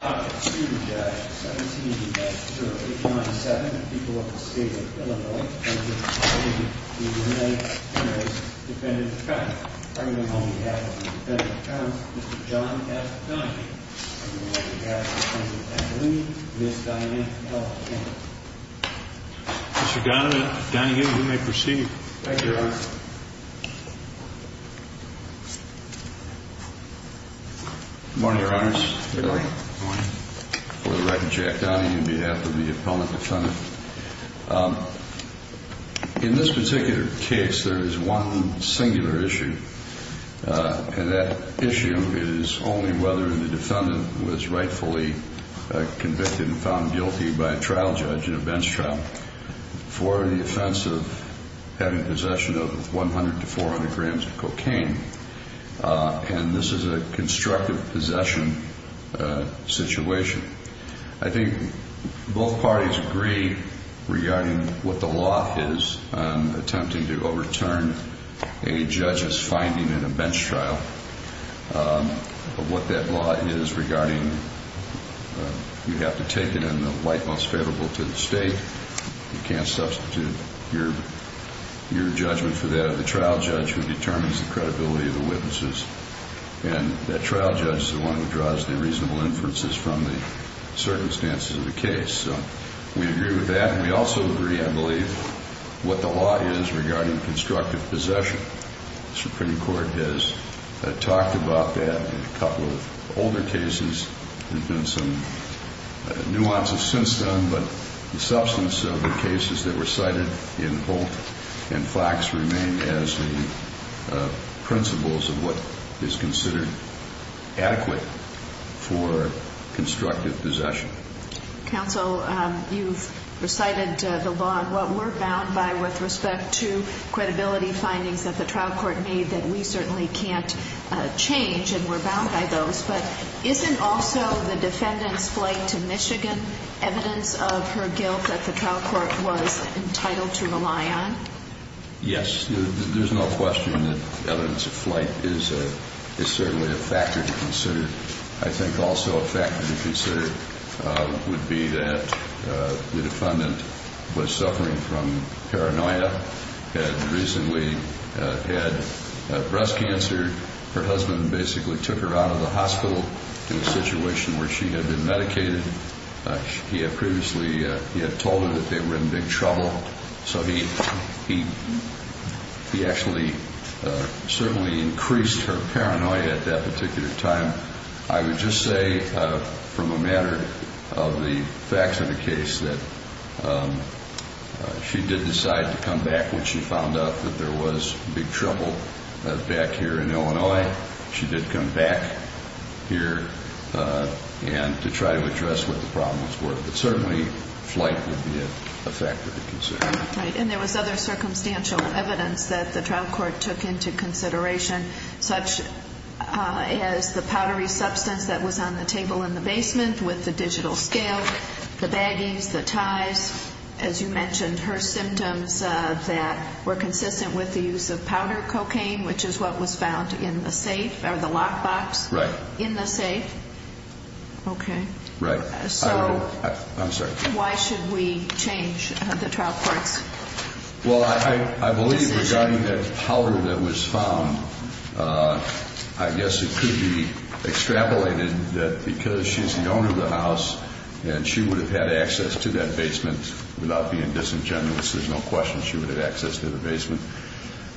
John F. Donahue. Mr. Donahue, you may proceed. Good morning, Your Honors. For the record, Jack Donahue, on behalf of the appellant defendant. In this particular case, there is one singular issue, and that issue is only whether the defendant was rightfully convicted and found guilty by a trial judge in a bench trial. For the offense of having possession of 100 to 400 grams of cocaine, and this is a constructive possession situation. I think both parties agree regarding what the law is attempting to overturn a judge's finding in a bench trial. What that law is regarding, you have to take it in the light most favorable to the state. You can't substitute your judgment for that of the trial judge who determines the credibility of the witnesses. And that trial judge is the one who draws the reasonable inferences from the circumstances of the case. We agree with that, and we also agree, I believe, what the law is regarding constructive possession. The Supreme Court has talked about that in a couple of older cases. There have been some nuances since then, but the substance of the cases that were cited in both facts remain as the principles of what is considered adequate for constructive possession. Counsel, you've recited the law and what we're bound by with respect to credibility findings that the trial court made that we certainly can't change, and we're bound by those. But isn't also the defendant's flight to Michigan evidence of her guilt that the trial court was entitled to rely on? Yes, there's no question that evidence of flight is certainly a factor to consider. I think also a factor to consider would be that the defendant was suffering from paranoia and recently had breast cancer. Her husband basically took her out of the hospital in a situation where she had been medicated. He had previously told her that they were in big trouble, so he actually certainly increased her paranoia at that particular time. I would just say from a matter of the facts of the case that she did decide to come back when she found out that there was big trouble back here in Illinois. She did come back here to try to address what the problems were, but certainly flight would be a factor to consider. And there was other circumstantial evidence that the trial court took into consideration, such as the powdery substance that was on the table in the basement with the digital scale, the baggies, the ties. As you mentioned, her symptoms that were consistent with the use of powder cocaine, which is what was found in the safe or the lockbox in the safe. So why should we change the trial courts? Well, I believe regarding that powder that was found, I guess it could be extrapolated that because she's the owner of the house and she would have had access to that basement without being disingenuous, there's no question she would have access to the basement.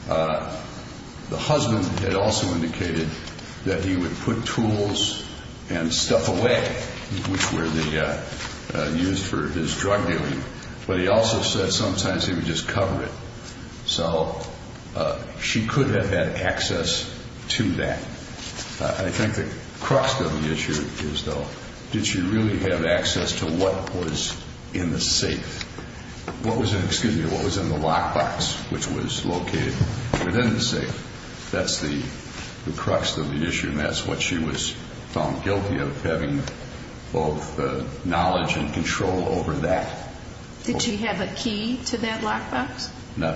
The husband had also indicated that he would put tools and stuff away, which were used for his drug dealing, but he also said sometimes he would just cover it. So she could have had access to that. I think the crux of the issue is, though, did she really have access to what was in the safe? What was in the lockbox, which was located within the safe? That's the crux of the issue, and that's what she was found guilty of, having both knowledge and control over that. Did she have a key to that lockbox? No,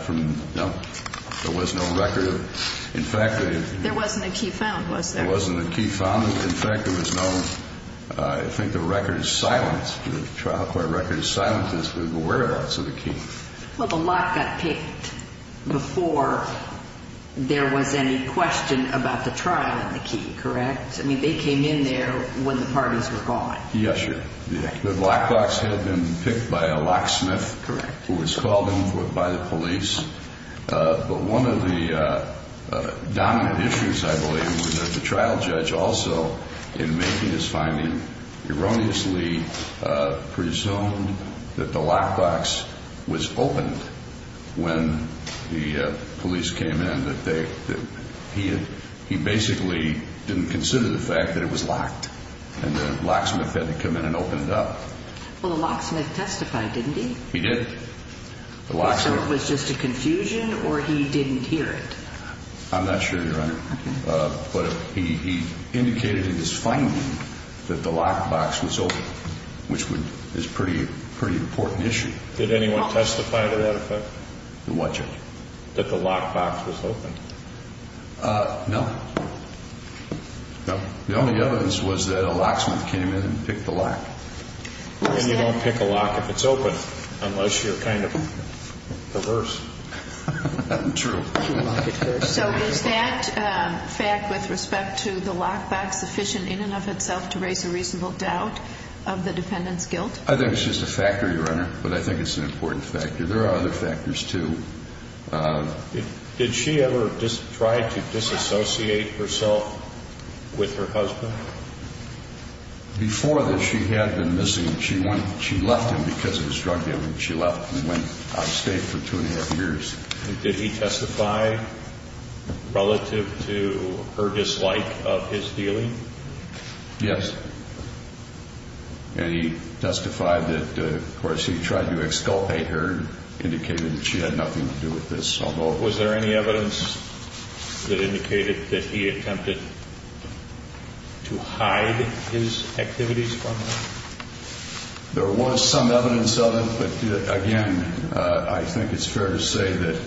there was no record. There wasn't a key found, was there? There wasn't a key found. In fact, there was no – I think the record is silenced. The trial court record is silenced as to the whereabouts of the key. Well, the lock got picked before there was any question about the trial and the key, correct? I mean, they came in there when the parties were gone. Yes, sir. The lockbox had been picked by a locksmith who was called in by the police. But one of the dominant issues, I believe, was that the trial judge also, in making his finding, erroneously presumed that the lockbox was opened when the police came in, that he basically didn't consider the fact that it was locked and the locksmith had to come in and open it up. Well, the locksmith testified, didn't he? He did. So it was just a confusion or he didn't hear it? I'm not sure, Your Honor. But he indicated in his finding that the lockbox was open, which is a pretty important issue. Did anyone testify to that effect? The what, Judge? That the lockbox was open. No. No. The only evidence was that a locksmith came in and picked the lock. And you don't pick a lock if it's open unless you're kind of perverse. True. So was that fact with respect to the lockbox sufficient in and of itself to raise a reasonable doubt of the defendant's guilt? I think it's just a factor, Your Honor, but I think it's an important factor. There are other factors, too. Did she ever try to disassociate herself with her husband? Before this, she had been missing. She left him because of his drug dealing. She left and went out of state for two and a half years. Did he testify relative to her dislike of his dealing? Yes. And he testified that, of course, he tried to exculpate her and indicated that she had nothing to do with this. Was there any evidence that indicated that he attempted to hide his activities from her? There was some evidence of it. But, again, I think it's fair to say that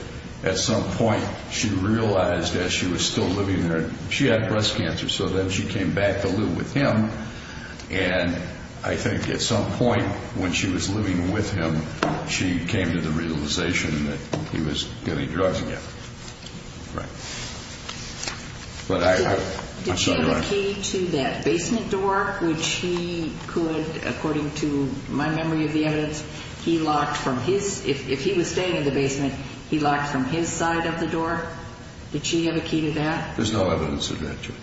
at some point she realized that she was still living there. She had breast cancer, so then she came back to live with him. And I think at some point when she was living with him, she came to the realization that he was getting drugs again. Right. But I'm sorry, Your Honor. Did she have a key to that basement door, which he could, according to my memory of the evidence, he locked from his – if he was staying in the basement, he locked from his side of the door? Did she have a key to that? There's no evidence of that, Judge.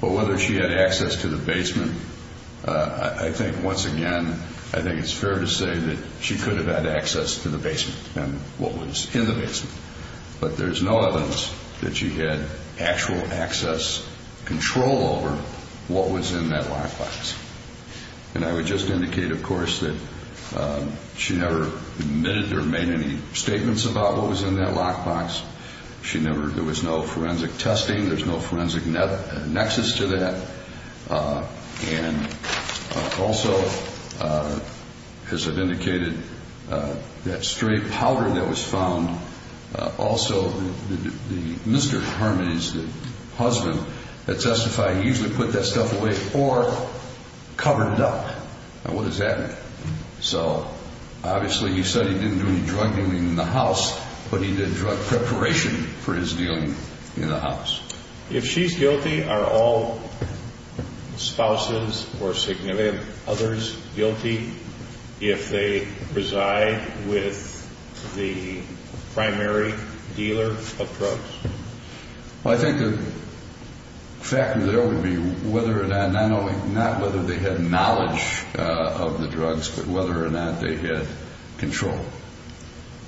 But whether she had access to the basement, I think, once again, I think it's fair to say that she could have had access to the basement and what was in the basement. But there's no evidence that she had actual access, control over what was in that lockbox. And I would just indicate, of course, that she never admitted or made any statements about what was in that lockbox. She never – there was no forensic testing. There's no forensic nexus to that. And also, as I've indicated, that stray powder that was found, also the – Mr. Harmon's husband had testified he usually put that stuff away or covered it up. Now, what does that mean? So, obviously, he said he didn't do any drug dealing in the house, but he did drug preparation for his dealing in the house. If she's guilty, are all spouses or significant others guilty if they reside with the primary dealer of drugs? Well, I think the factor there would be whether or not – not whether they had knowledge of the drugs, but whether or not they had control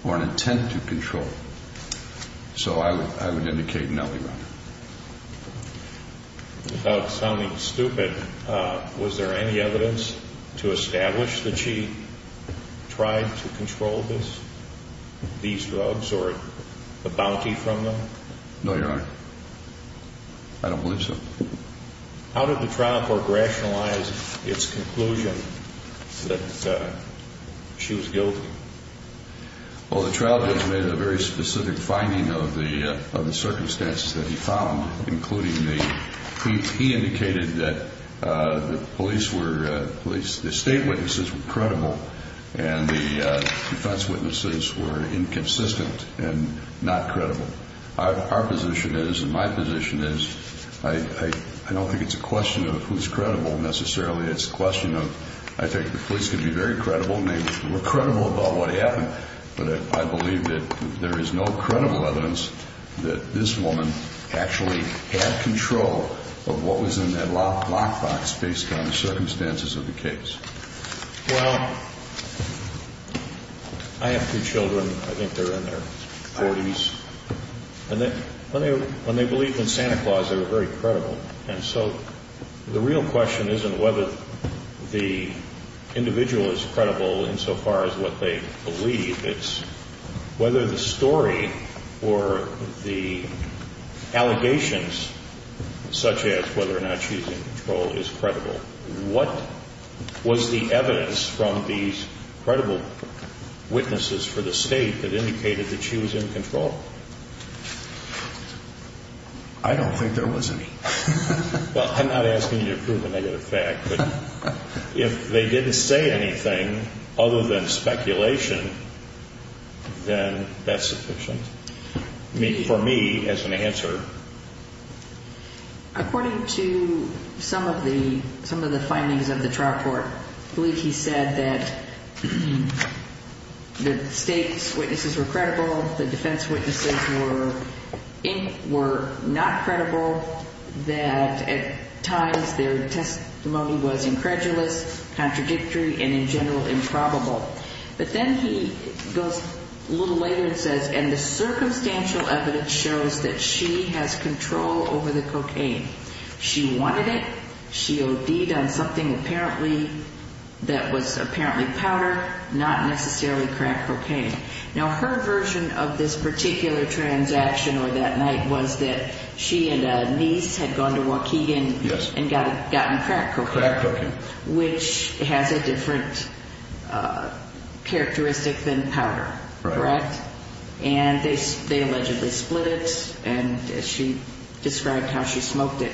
or an intent to control. So I would indicate no, Your Honor. Without sounding stupid, was there any evidence to establish that she tried to control this – these drugs or the bounty from them? No, Your Honor. I don't believe so. How did the trial court rationalize its conclusion that she was guilty? Well, the trial judge made a very specific finding of the circumstances that he found, including the – he indicated that the police were – the state witnesses were credible, and the defense witnesses were inconsistent and not credible. Our position is, and my position is, I don't think it's a question of who's credible necessarily. It's a question of – I think the police can be very credible, and they were credible about what happened, but I believe that there is no credible evidence that this woman actually had control of what was in that lockbox based on the circumstances of the case. Well, I have two children. I think they're in their 40s. When they believed in Santa Claus, they were very credible. And so the real question isn't whether the individual is credible insofar as what they believe. It's whether the story or the allegations, such as whether or not she was in control, is credible. What was the evidence from these credible witnesses for the state that indicated that she was in control? I don't think there was any. Well, I'm not asking you to prove a negative fact, but if they didn't say anything other than speculation, then that's sufficient for me as an answer. According to some of the findings of the trial court, I believe he said that the state's witnesses were credible, the defense witnesses were not credible, that at times their testimony was incredulous, contradictory, and in general improbable. But then he goes a little later and says, and the circumstantial evidence shows that she has control over the cocaine. She wanted it. She OD'd on something apparently that was apparently powder, not necessarily crack cocaine. Now, her version of this particular transaction or that night was that she and a niece had gone to Waukegan and gotten crack cocaine, which has a different characteristic than powder, correct? And they allegedly split it, and she described how she smoked it.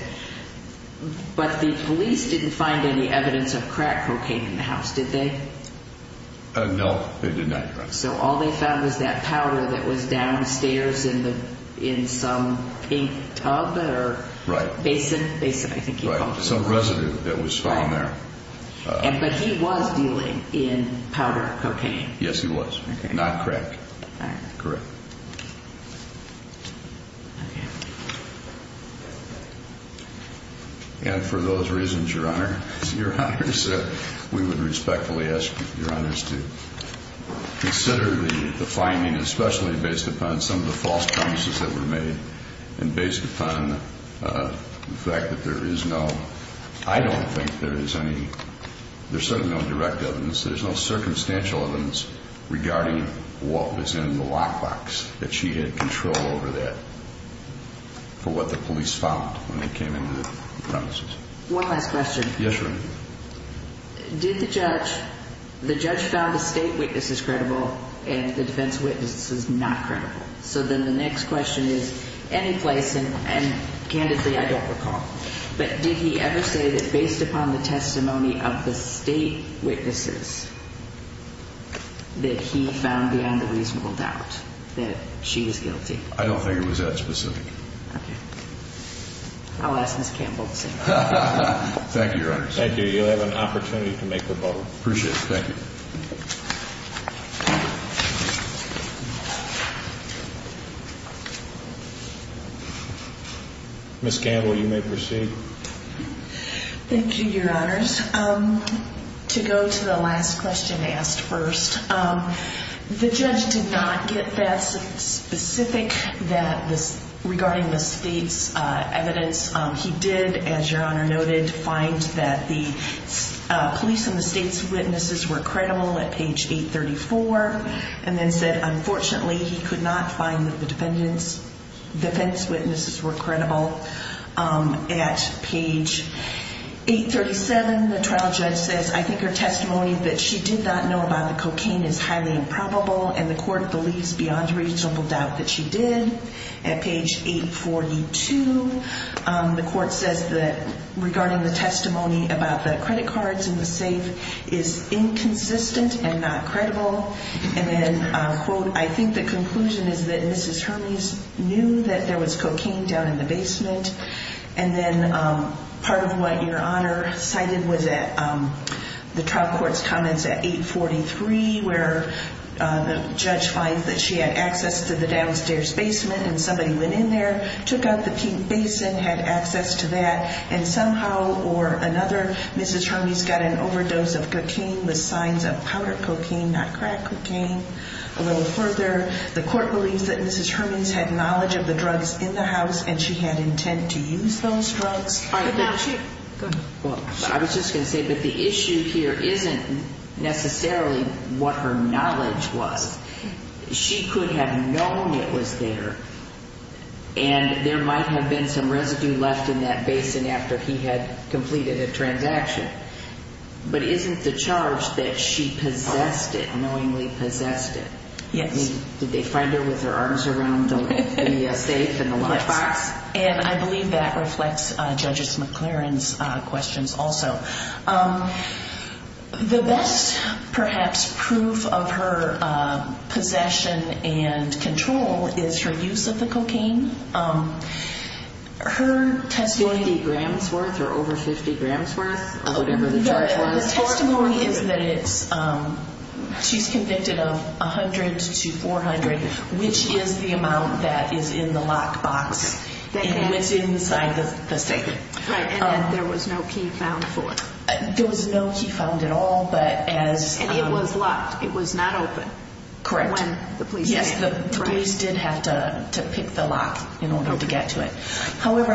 But the police didn't find any evidence of crack cocaine in the house, did they? No, they did not. So all they found was that powder that was downstairs in some ink tub or basin? Some residue that was found there. But he was dealing in powder cocaine. Yes, he was. Not crack. Correct. And for those reasons, Your Honor, we would respectfully ask Your Honors to consider the finding, especially based upon some of the false premises that were made and based upon the fact that there is no, I don't think there is any, there's certainly no direct evidence. There's no circumstantial evidence regarding what was in the lockbox, that she had control over that, for what the police found when they came into the premises. One last question. Yes, Your Honor. Did the judge, the judge found the state witnesses credible and the defense witnesses not credible. So then the next question is, any place, and candidly, I don't recall, but did he ever say that based upon the testimony of the state witnesses, that he found beyond a reasonable doubt that she was guilty? I don't think it was that specific. Thank you, Your Honors. Thank you. You'll have an opportunity to make the vote. Appreciate it. Thank you. Ms. Gamble, you may proceed. Thank you, Your Honors. To go to the last question asked first, the judge did not get that specific regarding the state's evidence. He did, as Your Honor noted, find that the police and the state's witnesses were credible at page 834, and then said, unfortunately, he could not find that the defense witnesses were credible at page 837. The trial judge says, I think her testimony that she did not know about the cocaine is highly improbable, and the court believes beyond reasonable doubt that she did. At page 842, the court says that regarding the testimony about the credit cards in the safe is inconsistent and not credible. And then, quote, I think the conclusion is that Mrs. Hermes knew that there was cocaine down in the basement. And then part of what Your Honor cited was that the trial court's comments at 843, where the judge finds that she had access to the downstairs basement and somebody went in there, took out the pink basin, had access to that, and somehow or another, Mrs. Hermes got an overdose of cocaine with signs of powder cocaine, not crack cocaine. A little further, the court believes that Mrs. Hermes had knowledge of the drugs in the house, and she had intent to use those drugs. I was just going to say, but the issue here isn't necessarily what her knowledge was. She could have known it was there, and there might have been some residue left in that basin after he had completed a transaction. But isn't the charge that she possessed it, knowingly possessed it? Yes. Did they find her with her arms around the safe in the lunchbox? And I believe that reflects Judge McLaren's questions also. The best, perhaps, proof of her possession and control is her use of the cocaine. Her testimony— 50 grams worth or over 50 grams worth, or whatever the charge was. The testimony is that she's convicted of 100 to 400, which is the amount that is in the lockbox and what's inside the safe. And there was no key found for it. There was no key found at all, but as— And it was locked. It was not open. Correct. When the police came. Yes, the police did have to pick the lock in order to get to it. However,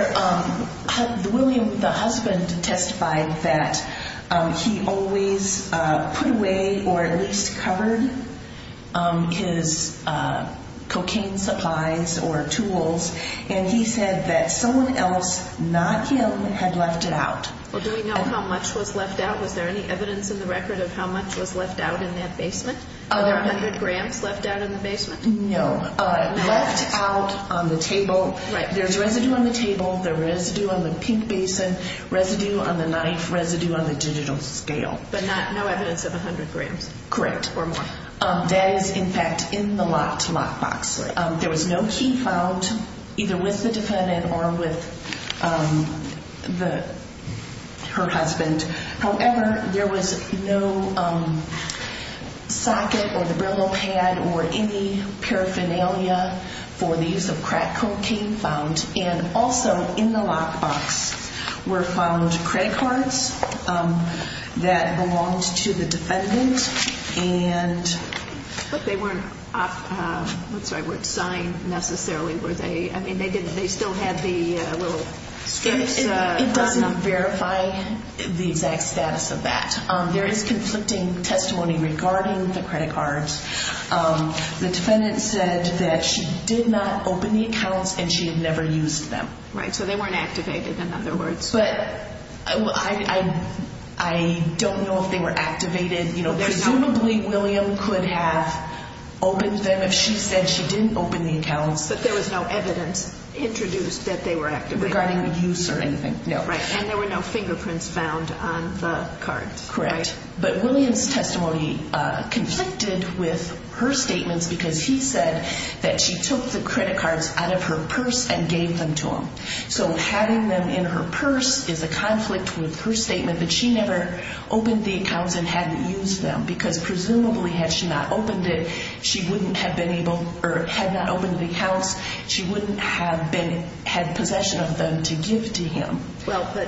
William, the husband, testified that he always put away or at least covered his cocaine supplies or tools, and he said that someone else, not him, had left it out. Well, do we know how much was left out? Was there any evidence in the record of how much was left out in that basement? Were there 100 grams left out in the basement? No. Left out on the table. Right. There's residue on the table, there's residue on the pink basin, residue on the knife, residue on the digital scale. But no evidence of 100 grams. Correct. Or more. That is, in fact, in the locked lockbox. There was no key found, either with the defendant or with her husband. However, there was no socket or the Brillo pad or any paraphernalia for the use of crack cocaine found. And also in the lockbox were found credit cards that belonged to the defendant. But they weren't signed necessarily, were they? I mean, they still had the little strips. It doesn't verify the exact status of that. There is conflicting testimony regarding the credit cards. The defendant said that she did not open the accounts and she had never used them. Right, so they weren't activated, in other words. But I don't know if they were activated. Presumably, William could have opened them if she said she didn't open the accounts. But there was no evidence introduced that they were activated? Regarding use or anything, no. And there were no fingerprints found on the cards. Correct. But William's testimony conflicted with her statements because he said that she took the credit cards out of her purse and gave them to him. So having them in her purse is a conflict with her statement that she never opened the accounts and hadn't used them because presumably had she not opened it, she wouldn't have been able or had not opened the accounts, she wouldn't have had possession of them to give to him. Well, but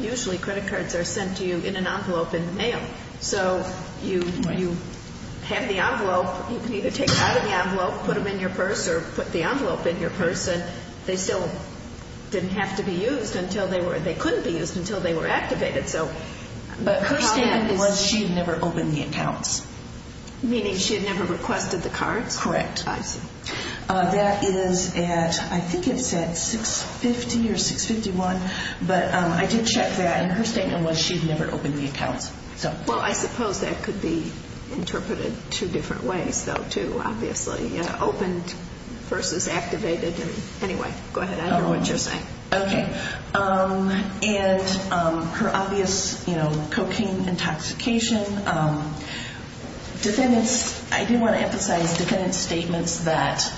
usually credit cards are sent to you in an envelope in the mail. So you have the envelope. You can either take it out of the envelope, put it in your purse, or put the envelope in your purse and they still didn't have to be used until they were activated. But her statement was she had never opened the accounts. Meaning she had never requested the cards? Correct. I see. I had 650 or 651, but I did check that, and her statement was she had never opened the accounts. Well, I suppose that could be interpreted two different ways, though, too, obviously. Opened versus activated. Anyway, go ahead. I hear what you're saying. Okay. And her obvious cocaine intoxication. Defendants, I do want to emphasize defendants' statements that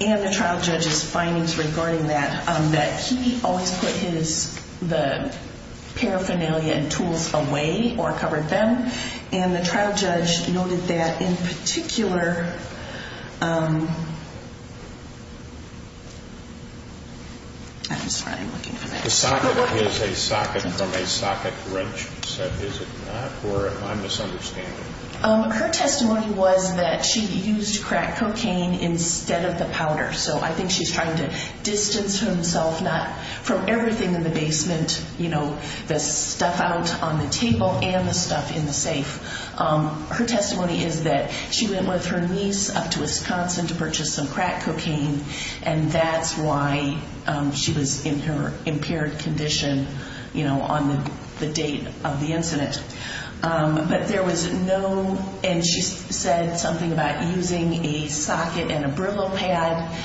and the trial judge's findings regarding that, that he always put the paraphernalia and tools away or covered them, and the trial judge noted that in particular I'm sorry, I'm looking for that. The socket is a socket from a socket wrench, is it not? Or am I misunderstanding? Her testimony was that she used crack cocaine instead of the powder. So I think she's trying to distance herself not from everything in the basement, you know, the stuff out on the table and the stuff in the safe. Her testimony is that she went with her niece up to Wisconsin to purchase some crack cocaine, and that's why she was in her impaired condition, you know, on the date of the incident. But there was no, and she said something about using a socket and a Brillo pad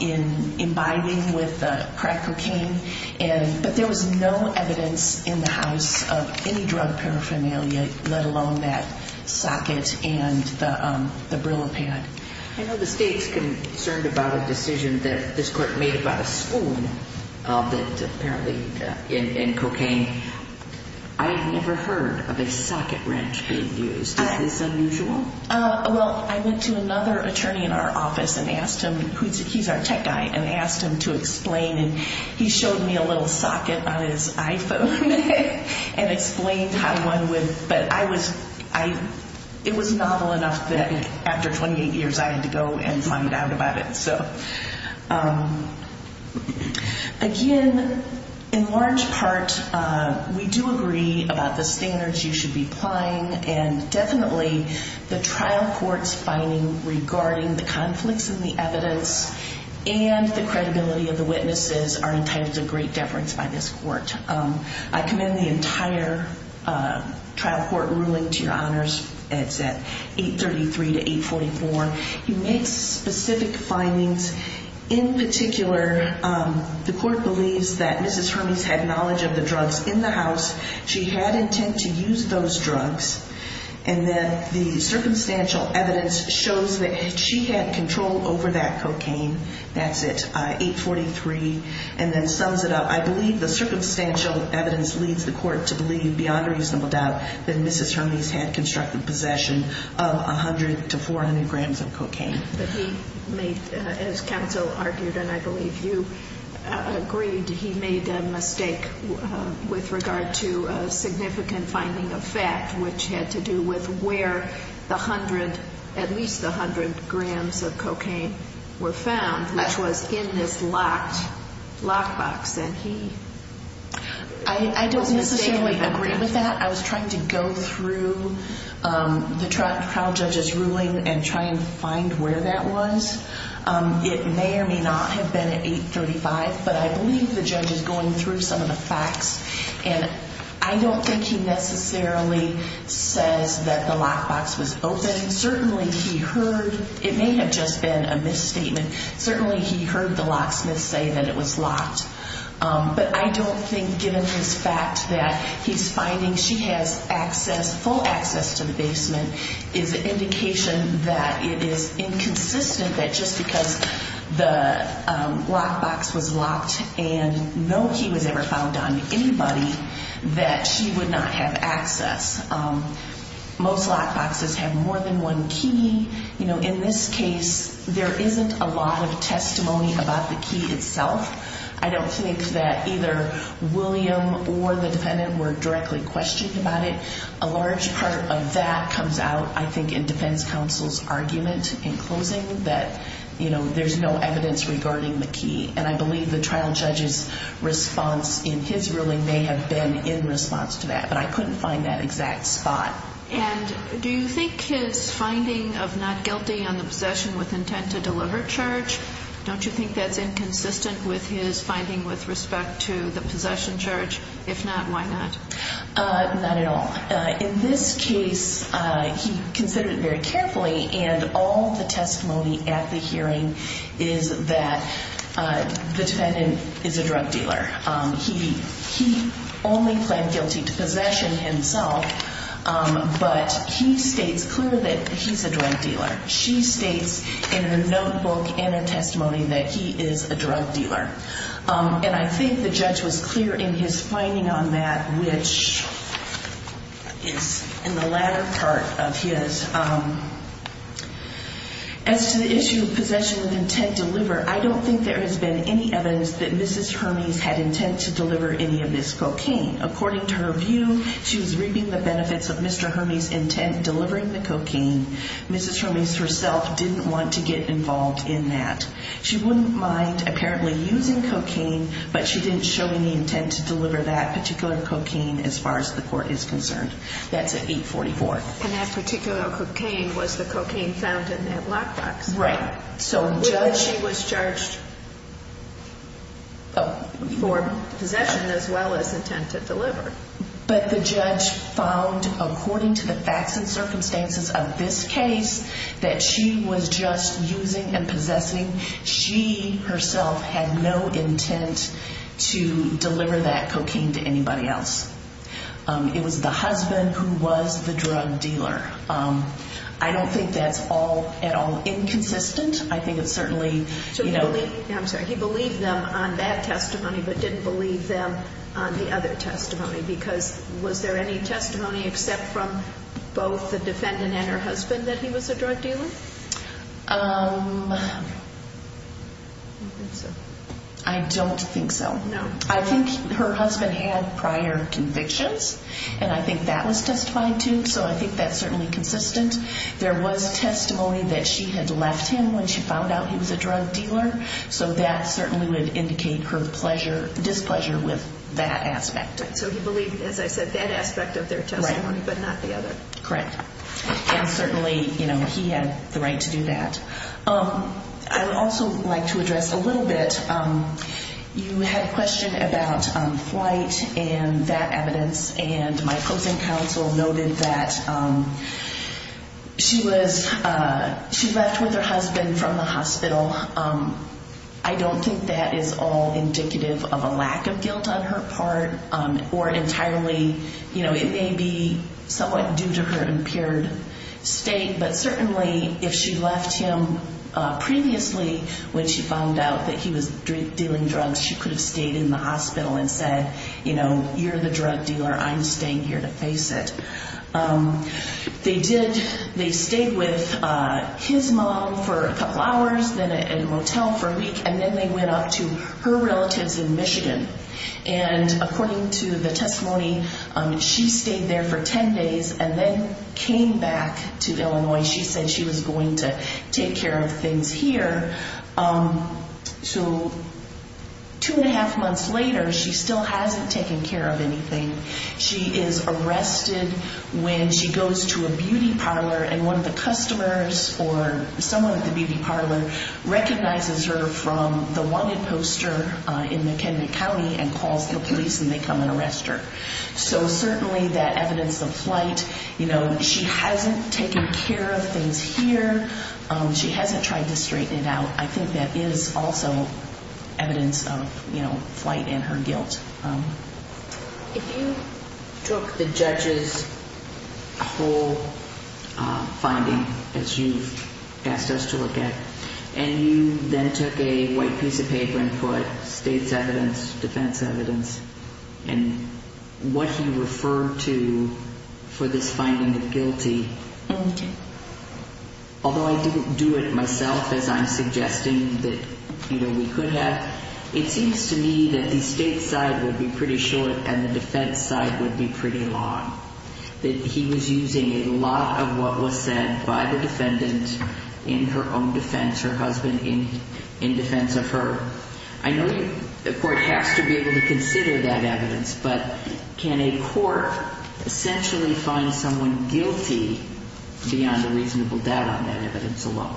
in imbibing with the crack cocaine. But there was no evidence in the house of any drug paraphernalia, let alone that socket and the Brillo pad. I know the State's concerned about a decision that this court made about a spoon that apparently, in cocaine. I've never heard of a socket wrench being used. Is this unusual? Well, I went to another attorney in our office and asked him, he's our tech guy, and asked him to explain, and he showed me a little socket on his iPhone and explained how one would, but I was, it was novel enough that after 28 years I had to go and find out about it. So, again, in large part, we do agree about the standards you should be applying, and definitely the trial court's finding regarding the conflicts in the evidence and the credibility of the witnesses are entitled to great deference by this court. I commend the entire trial court ruling to your honors. It's at 833 to 844. He makes specific findings. In particular, the court believes that Mrs. Hermes had knowledge of the drugs in the house. She had intent to use those drugs, and then the circumstantial evidence shows that she had control over that cocaine. That's at 843, and then sums it up. I believe the circumstantial evidence leads the court to believe, beyond reasonable doubt, that Mrs. Hermes had constructive possession of 100 to 400 grams of cocaine. But he made, as counsel argued, and I believe you agreed, he made a mistake with regard to a significant finding of fact, which had to do with where the 100, at least the 100 grams of cocaine were found, which was in this locked box, and he... I don't necessarily agree with that. I was trying to go through the trial judge's ruling and try and find where that was. It may or may not have been at 835, but I believe the judge is going through some of the facts, and I don't think he necessarily says that the locked box was open. Certainly, he heard... It may have just been a misstatement. Certainly, he heard the locksmith say that it was locked, but I don't think, given his fact that he's finding she has access, full access to the basement, is an indication that it is inconsistent that just because the locked box was locked and no key was ever found on anybody, that she would not have access. Most locked boxes have more than one key. In this case, there isn't a lot of testimony about the key itself. I don't think that either William or the defendant were directly questioned about it. A large part of that comes out, I think, in defense counsel's argument in closing that there's no evidence regarding the key, and I believe the trial judge's response in his ruling may have been in response to that, but I couldn't find that exact spot. And do you think his finding of not guilty on the possession with intent to deliver charge, don't you think that's inconsistent with his finding with respect to the possession charge? If not, why not? Not at all. In this case, he considered it very carefully, and all the testimony at the hearing is that the defendant is a drug dealer. He only pled guilty to possession himself, but he states clearly that he's a drug dealer. She states in her notebook and her testimony that he is a drug dealer. And I think the judge was clear in his finding on that, which is in the latter part of his. As to the issue of possession with intent to deliver, I don't think there has been any evidence that Mrs. Hermes had intent to deliver any of this cocaine. According to her view, she was reaping the benefits of Mr. Hermes' intent delivering the cocaine. Mrs. Hermes herself didn't want to get involved in that. She wouldn't mind apparently using cocaine, but she didn't show any intent to deliver that particular cocaine as far as the court is concerned. That's at 844. And that particular cocaine was the cocaine found in that black box. Right. So the judge... She was charged for possession as well as intent to deliver. But the judge found, according to the facts and circumstances of this case, that she was just using and possessing. She herself had no intent to deliver that cocaine to anybody else. It was the husband who was the drug dealer. I don't think that's all at all inconsistent. I think it's certainly... I'm sorry. He believed them on that testimony but didn't believe them on the other testimony because was there any testimony except from both the defendant and her husband that he was a drug dealer? I don't think so. No. I think her husband had prior convictions, and I think that was testified to, so I think that's certainly consistent. There was testimony that she had left him when she found out he was a drug dealer, so that certainly would indicate her displeasure with that aspect. So he believed, as I said, that aspect of their testimony but not the other. Correct. And certainly he had the right to do that. I would also like to address a little bit... You had a question about flight and that evidence, and my closing counsel noted that she left with her husband from the hospital. I don't think that is all indicative of a lack of guilt on her part or entirely. It may be somewhat due to her impaired state, but certainly if she left him previously when she found out that he was dealing drugs, she could have stayed in the hospital and said, you know, you're the drug dealer. I'm staying here to face it. They did. They stayed with his mom for a couple hours, then at a motel for a week, and then they went up to her relatives in Michigan. And according to the testimony, she stayed there for 10 days and then came back to Illinois. She said she was going to take care of things here. So two and a half months later, she still hasn't taken care of anything. She is arrested when she goes to a beauty parlor and one of the customers or someone at the beauty parlor recognizes her from the wanted poster in McKinley County and calls the police and they come and arrest her. So certainly that evidence of flight, you know, she hasn't taken care of things here. She hasn't tried to straighten it out. I think that is also evidence of, you know, flight and her guilt. If you took the judge's whole finding, as you've asked us to look at, and you then took a white piece of paper and put state's evidence, defense evidence, and what he referred to for this finding of guilty, although I didn't do it myself, as I'm suggesting that, you know, we could have, it seems to me that the state side would be pretty short and the defense side would be pretty long. That he was using a lot of what was said by the defendant in her own defense, her husband in defense of her. I know the court has to be able to consider that evidence, but can a court essentially find someone guilty beyond a reasonable doubt on that evidence alone?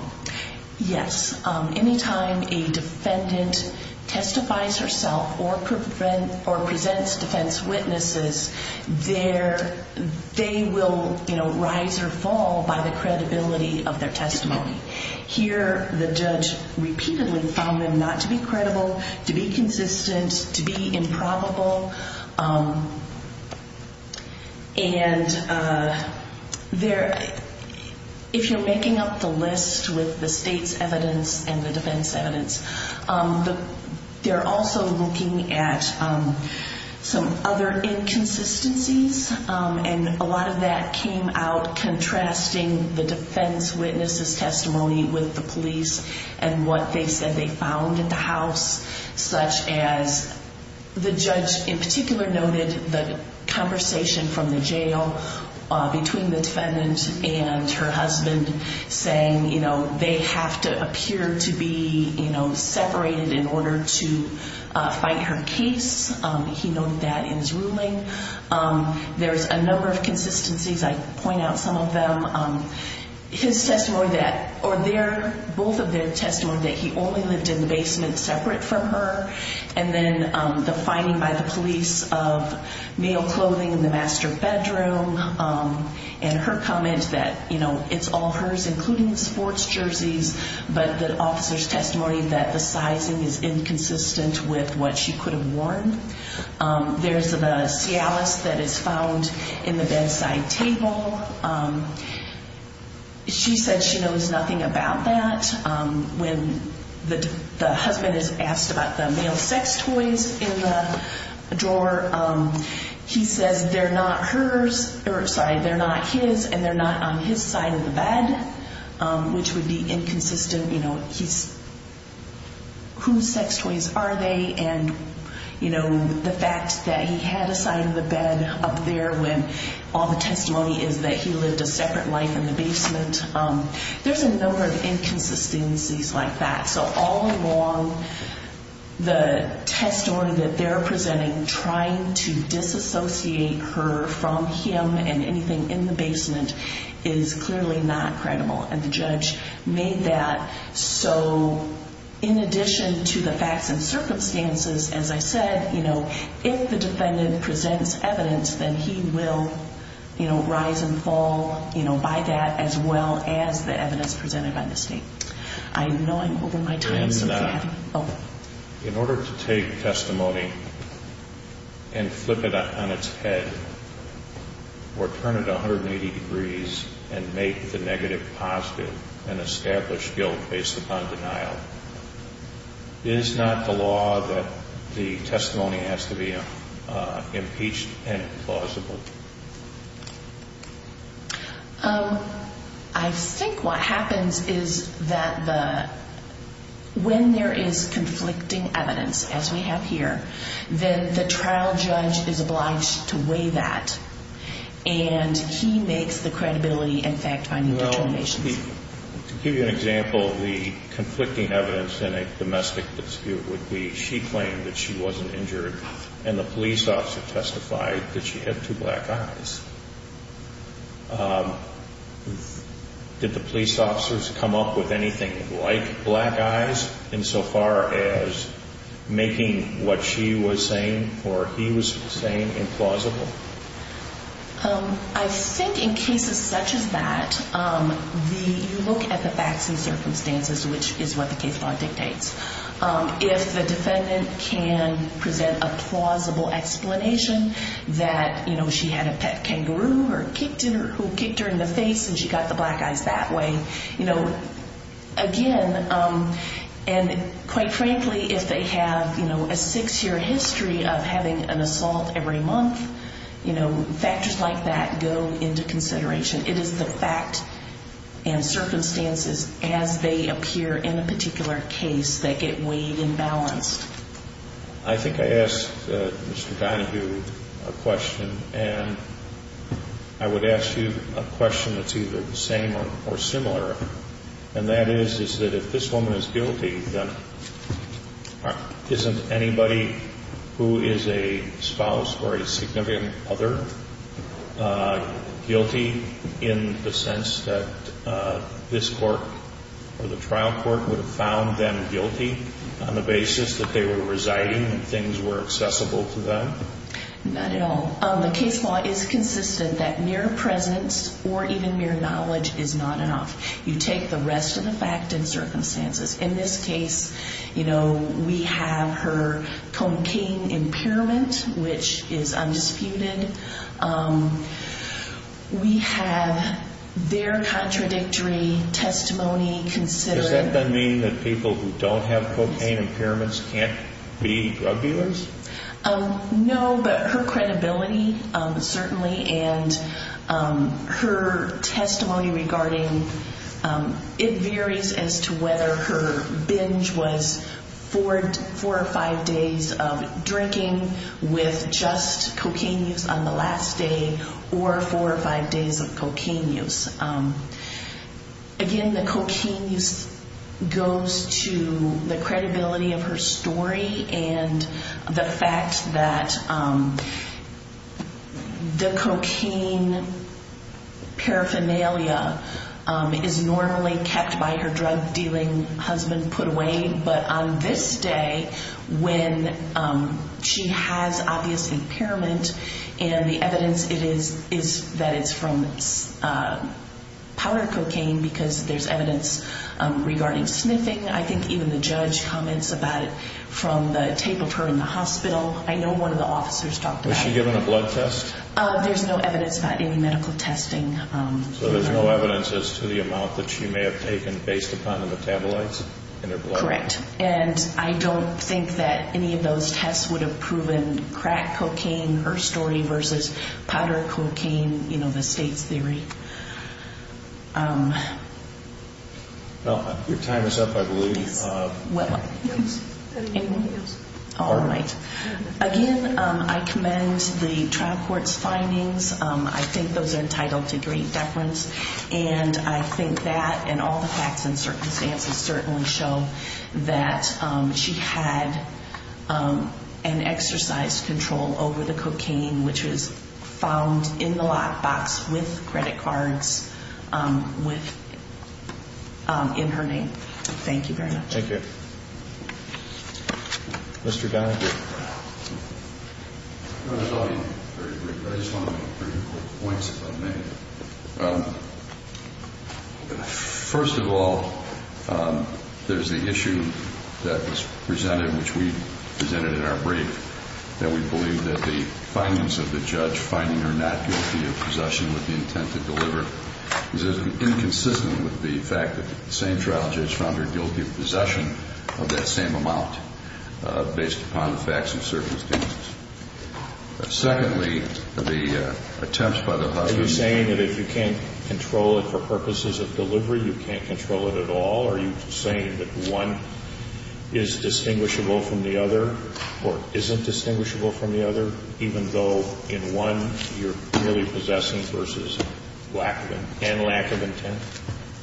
Yes. Anytime a defendant testifies herself or presents defense witnesses, they will, you know, rise or fall by the credibility of their testimony. Here the judge repeatedly found them not to be credible, to be consistent, to be improbable. And if you're making up the list with the state's evidence and the defense evidence, they're also looking at some other inconsistencies, and a lot of that came out contrasting the defense witness's testimony with the police and what they said they found at the house, such as the judge in particular noted the conversation from the jail between the defendant and her husband saying, you know, they have to appear to be, you know, separated in order to fight her case. He noted that in his ruling. There's a number of consistencies. I point out some of them. His testimony that, or their, both of their testimony that he only lived in the basement separate from her, and then the finding by the police of male clothing in the master bedroom, and her comment that, you know, it's all hers, including the sports jerseys, but the officer's testimony that the sizing is inconsistent with what she could have worn. There's the Cialis that is found in the bedside table. She said she knows nothing about that. When the husband is asked about the male sex toys in the drawer, he says they're not hers, or sorry, they're not his, and they're not on his side of the bed, which would be inconsistent. You know, he's, whose sex toys are they? And, you know, the fact that he had a side of the bed up there when all the testimony is that he lived a separate life in the basement. There's a number of inconsistencies like that. So all along, the testimony that they're presenting, and trying to disassociate her from him and anything in the basement is clearly not credible, and the judge made that. So in addition to the facts and circumstances, as I said, you know, if the defendant presents evidence, then he will, you know, rise and fall, you know, by that, as well as the evidence presented by the state. I know I'm over my time. In order to take testimony and flip it on its head or turn it 180 degrees and make the negative positive and establish guilt based upon denial, is not the law that the testimony has to be impeached and plausible? I think what happens is that when there is conflicting evidence, as we have here, then the trial judge is obliged to weigh that, and he makes the credibility and fact-finding determinations. Well, to give you an example, the conflicting evidence in a domestic dispute would be she claimed that she wasn't injured, and the police officer testified that she had two black eyes. Did the police officers come up with anything like black eyes, insofar as making what she was saying or he was saying implausible? I think in cases such as that, you look at the facts and circumstances, which is what the case law dictates. If the defendant can present a plausible explanation that, you know, she had a pet kangaroo who kicked her in the face and she got the black eyes that way, you know, again, and quite frankly, if they have, you know, a six-year history of having an assault every month, you know, factors like that go into consideration. It is the fact and circumstances as they appear in the particular case that get weighed and balanced. I think I asked Mr. Donahue a question, and I would ask you a question that's either the same or similar, and that is, is that if this woman is guilty, then isn't anybody who is a spouse or a significant other guilty? In the sense that this court or the trial court would have found them guilty on the basis that they were residing and things were accessible to them? Not at all. The case law is consistent that mere presence or even mere knowledge is not enough. You take the rest of the fact and circumstances. In this case, you know, we have her cocaine impairment, which is undisputed. We have their contradictory testimony considered. Does that then mean that people who don't have cocaine impairments can't be drug dealers? No, but her credibility, certainly, and her testimony regarding it varies as to whether her binge was four or five days of drinking with just cocaine use on the last day or four or five days of cocaine use. Again, the cocaine use goes to the credibility of her story and the fact that the cocaine paraphernalia is normally kept by her drug-dealing husband put away, but on this day, when she has, obviously, impairment, and the evidence is that it's from powder cocaine because there's evidence regarding sniffing. I think even the judge comments about it from the tape of her in the hospital. I know one of the officers talked about it. Was she given a blood test? There's no evidence about any medical testing. So there's no evidence as to the amount that she may have taken based upon the metabolites in her blood? Correct, and I don't think that any of those tests would have proven crack cocaine, her story, versus powder cocaine, you know, the state's theory. Well, your time is up, I believe. Yes. Anyone else? All right. Again, I commend the trial court's findings. I think those are entitled to great deference, and I think that and all the facts and circumstances certainly show that she had an exercise control over the cocaine, which is found in the lockbox with credit cards in her name. Thank you very much. Thank you. Mr. Donahue. I just want to make three quick points if I may. First of all, there's the issue that was presented, which we presented in our brief, that we believe that the findings of the judge finding her not guilty of possession with the intent to deliver is inconsistent with the fact that the same trial judge found her guilty of possession of that same amount based upon the facts and circumstances. Secondly, the attempts by the hostages. Are you saying that if you can't control it for purposes of delivery, you can't control it at all? Are you saying that one is distinguishable from the other or isn't distinguishable from the other, even though in one you're merely possessing versus lack of intent?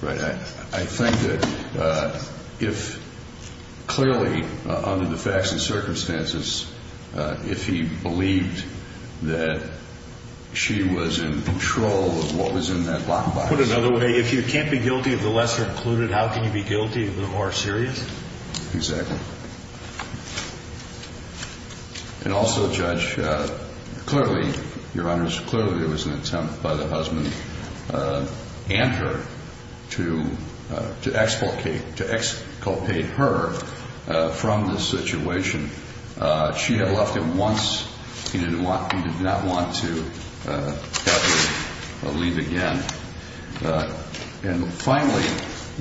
Right. I think that if clearly under the facts and circumstances, if he believed that she was in control of what was in that lockbox. To put it another way, if you can't be guilty of the lesser included, how can you be guilty of the more serious? Exactly. And also, Judge, clearly, Your Honors, clearly it was an attempt by the husband and her to exculpate her from the situation. She had left him once. He did not want to have her leave again. And finally,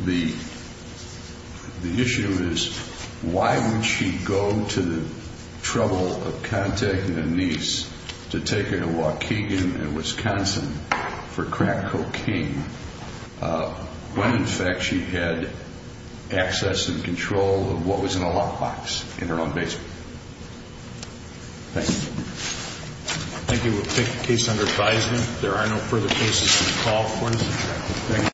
the issue is why would she go to the trouble of contacting a niece to take her to Waukegan and Wisconsin for crack cocaine when, in fact, she had access and control of what was in the lockbox in her own basement? Thank you. Thank you. We'll take the case under advisement. There are no further cases to be called for this. Thank you.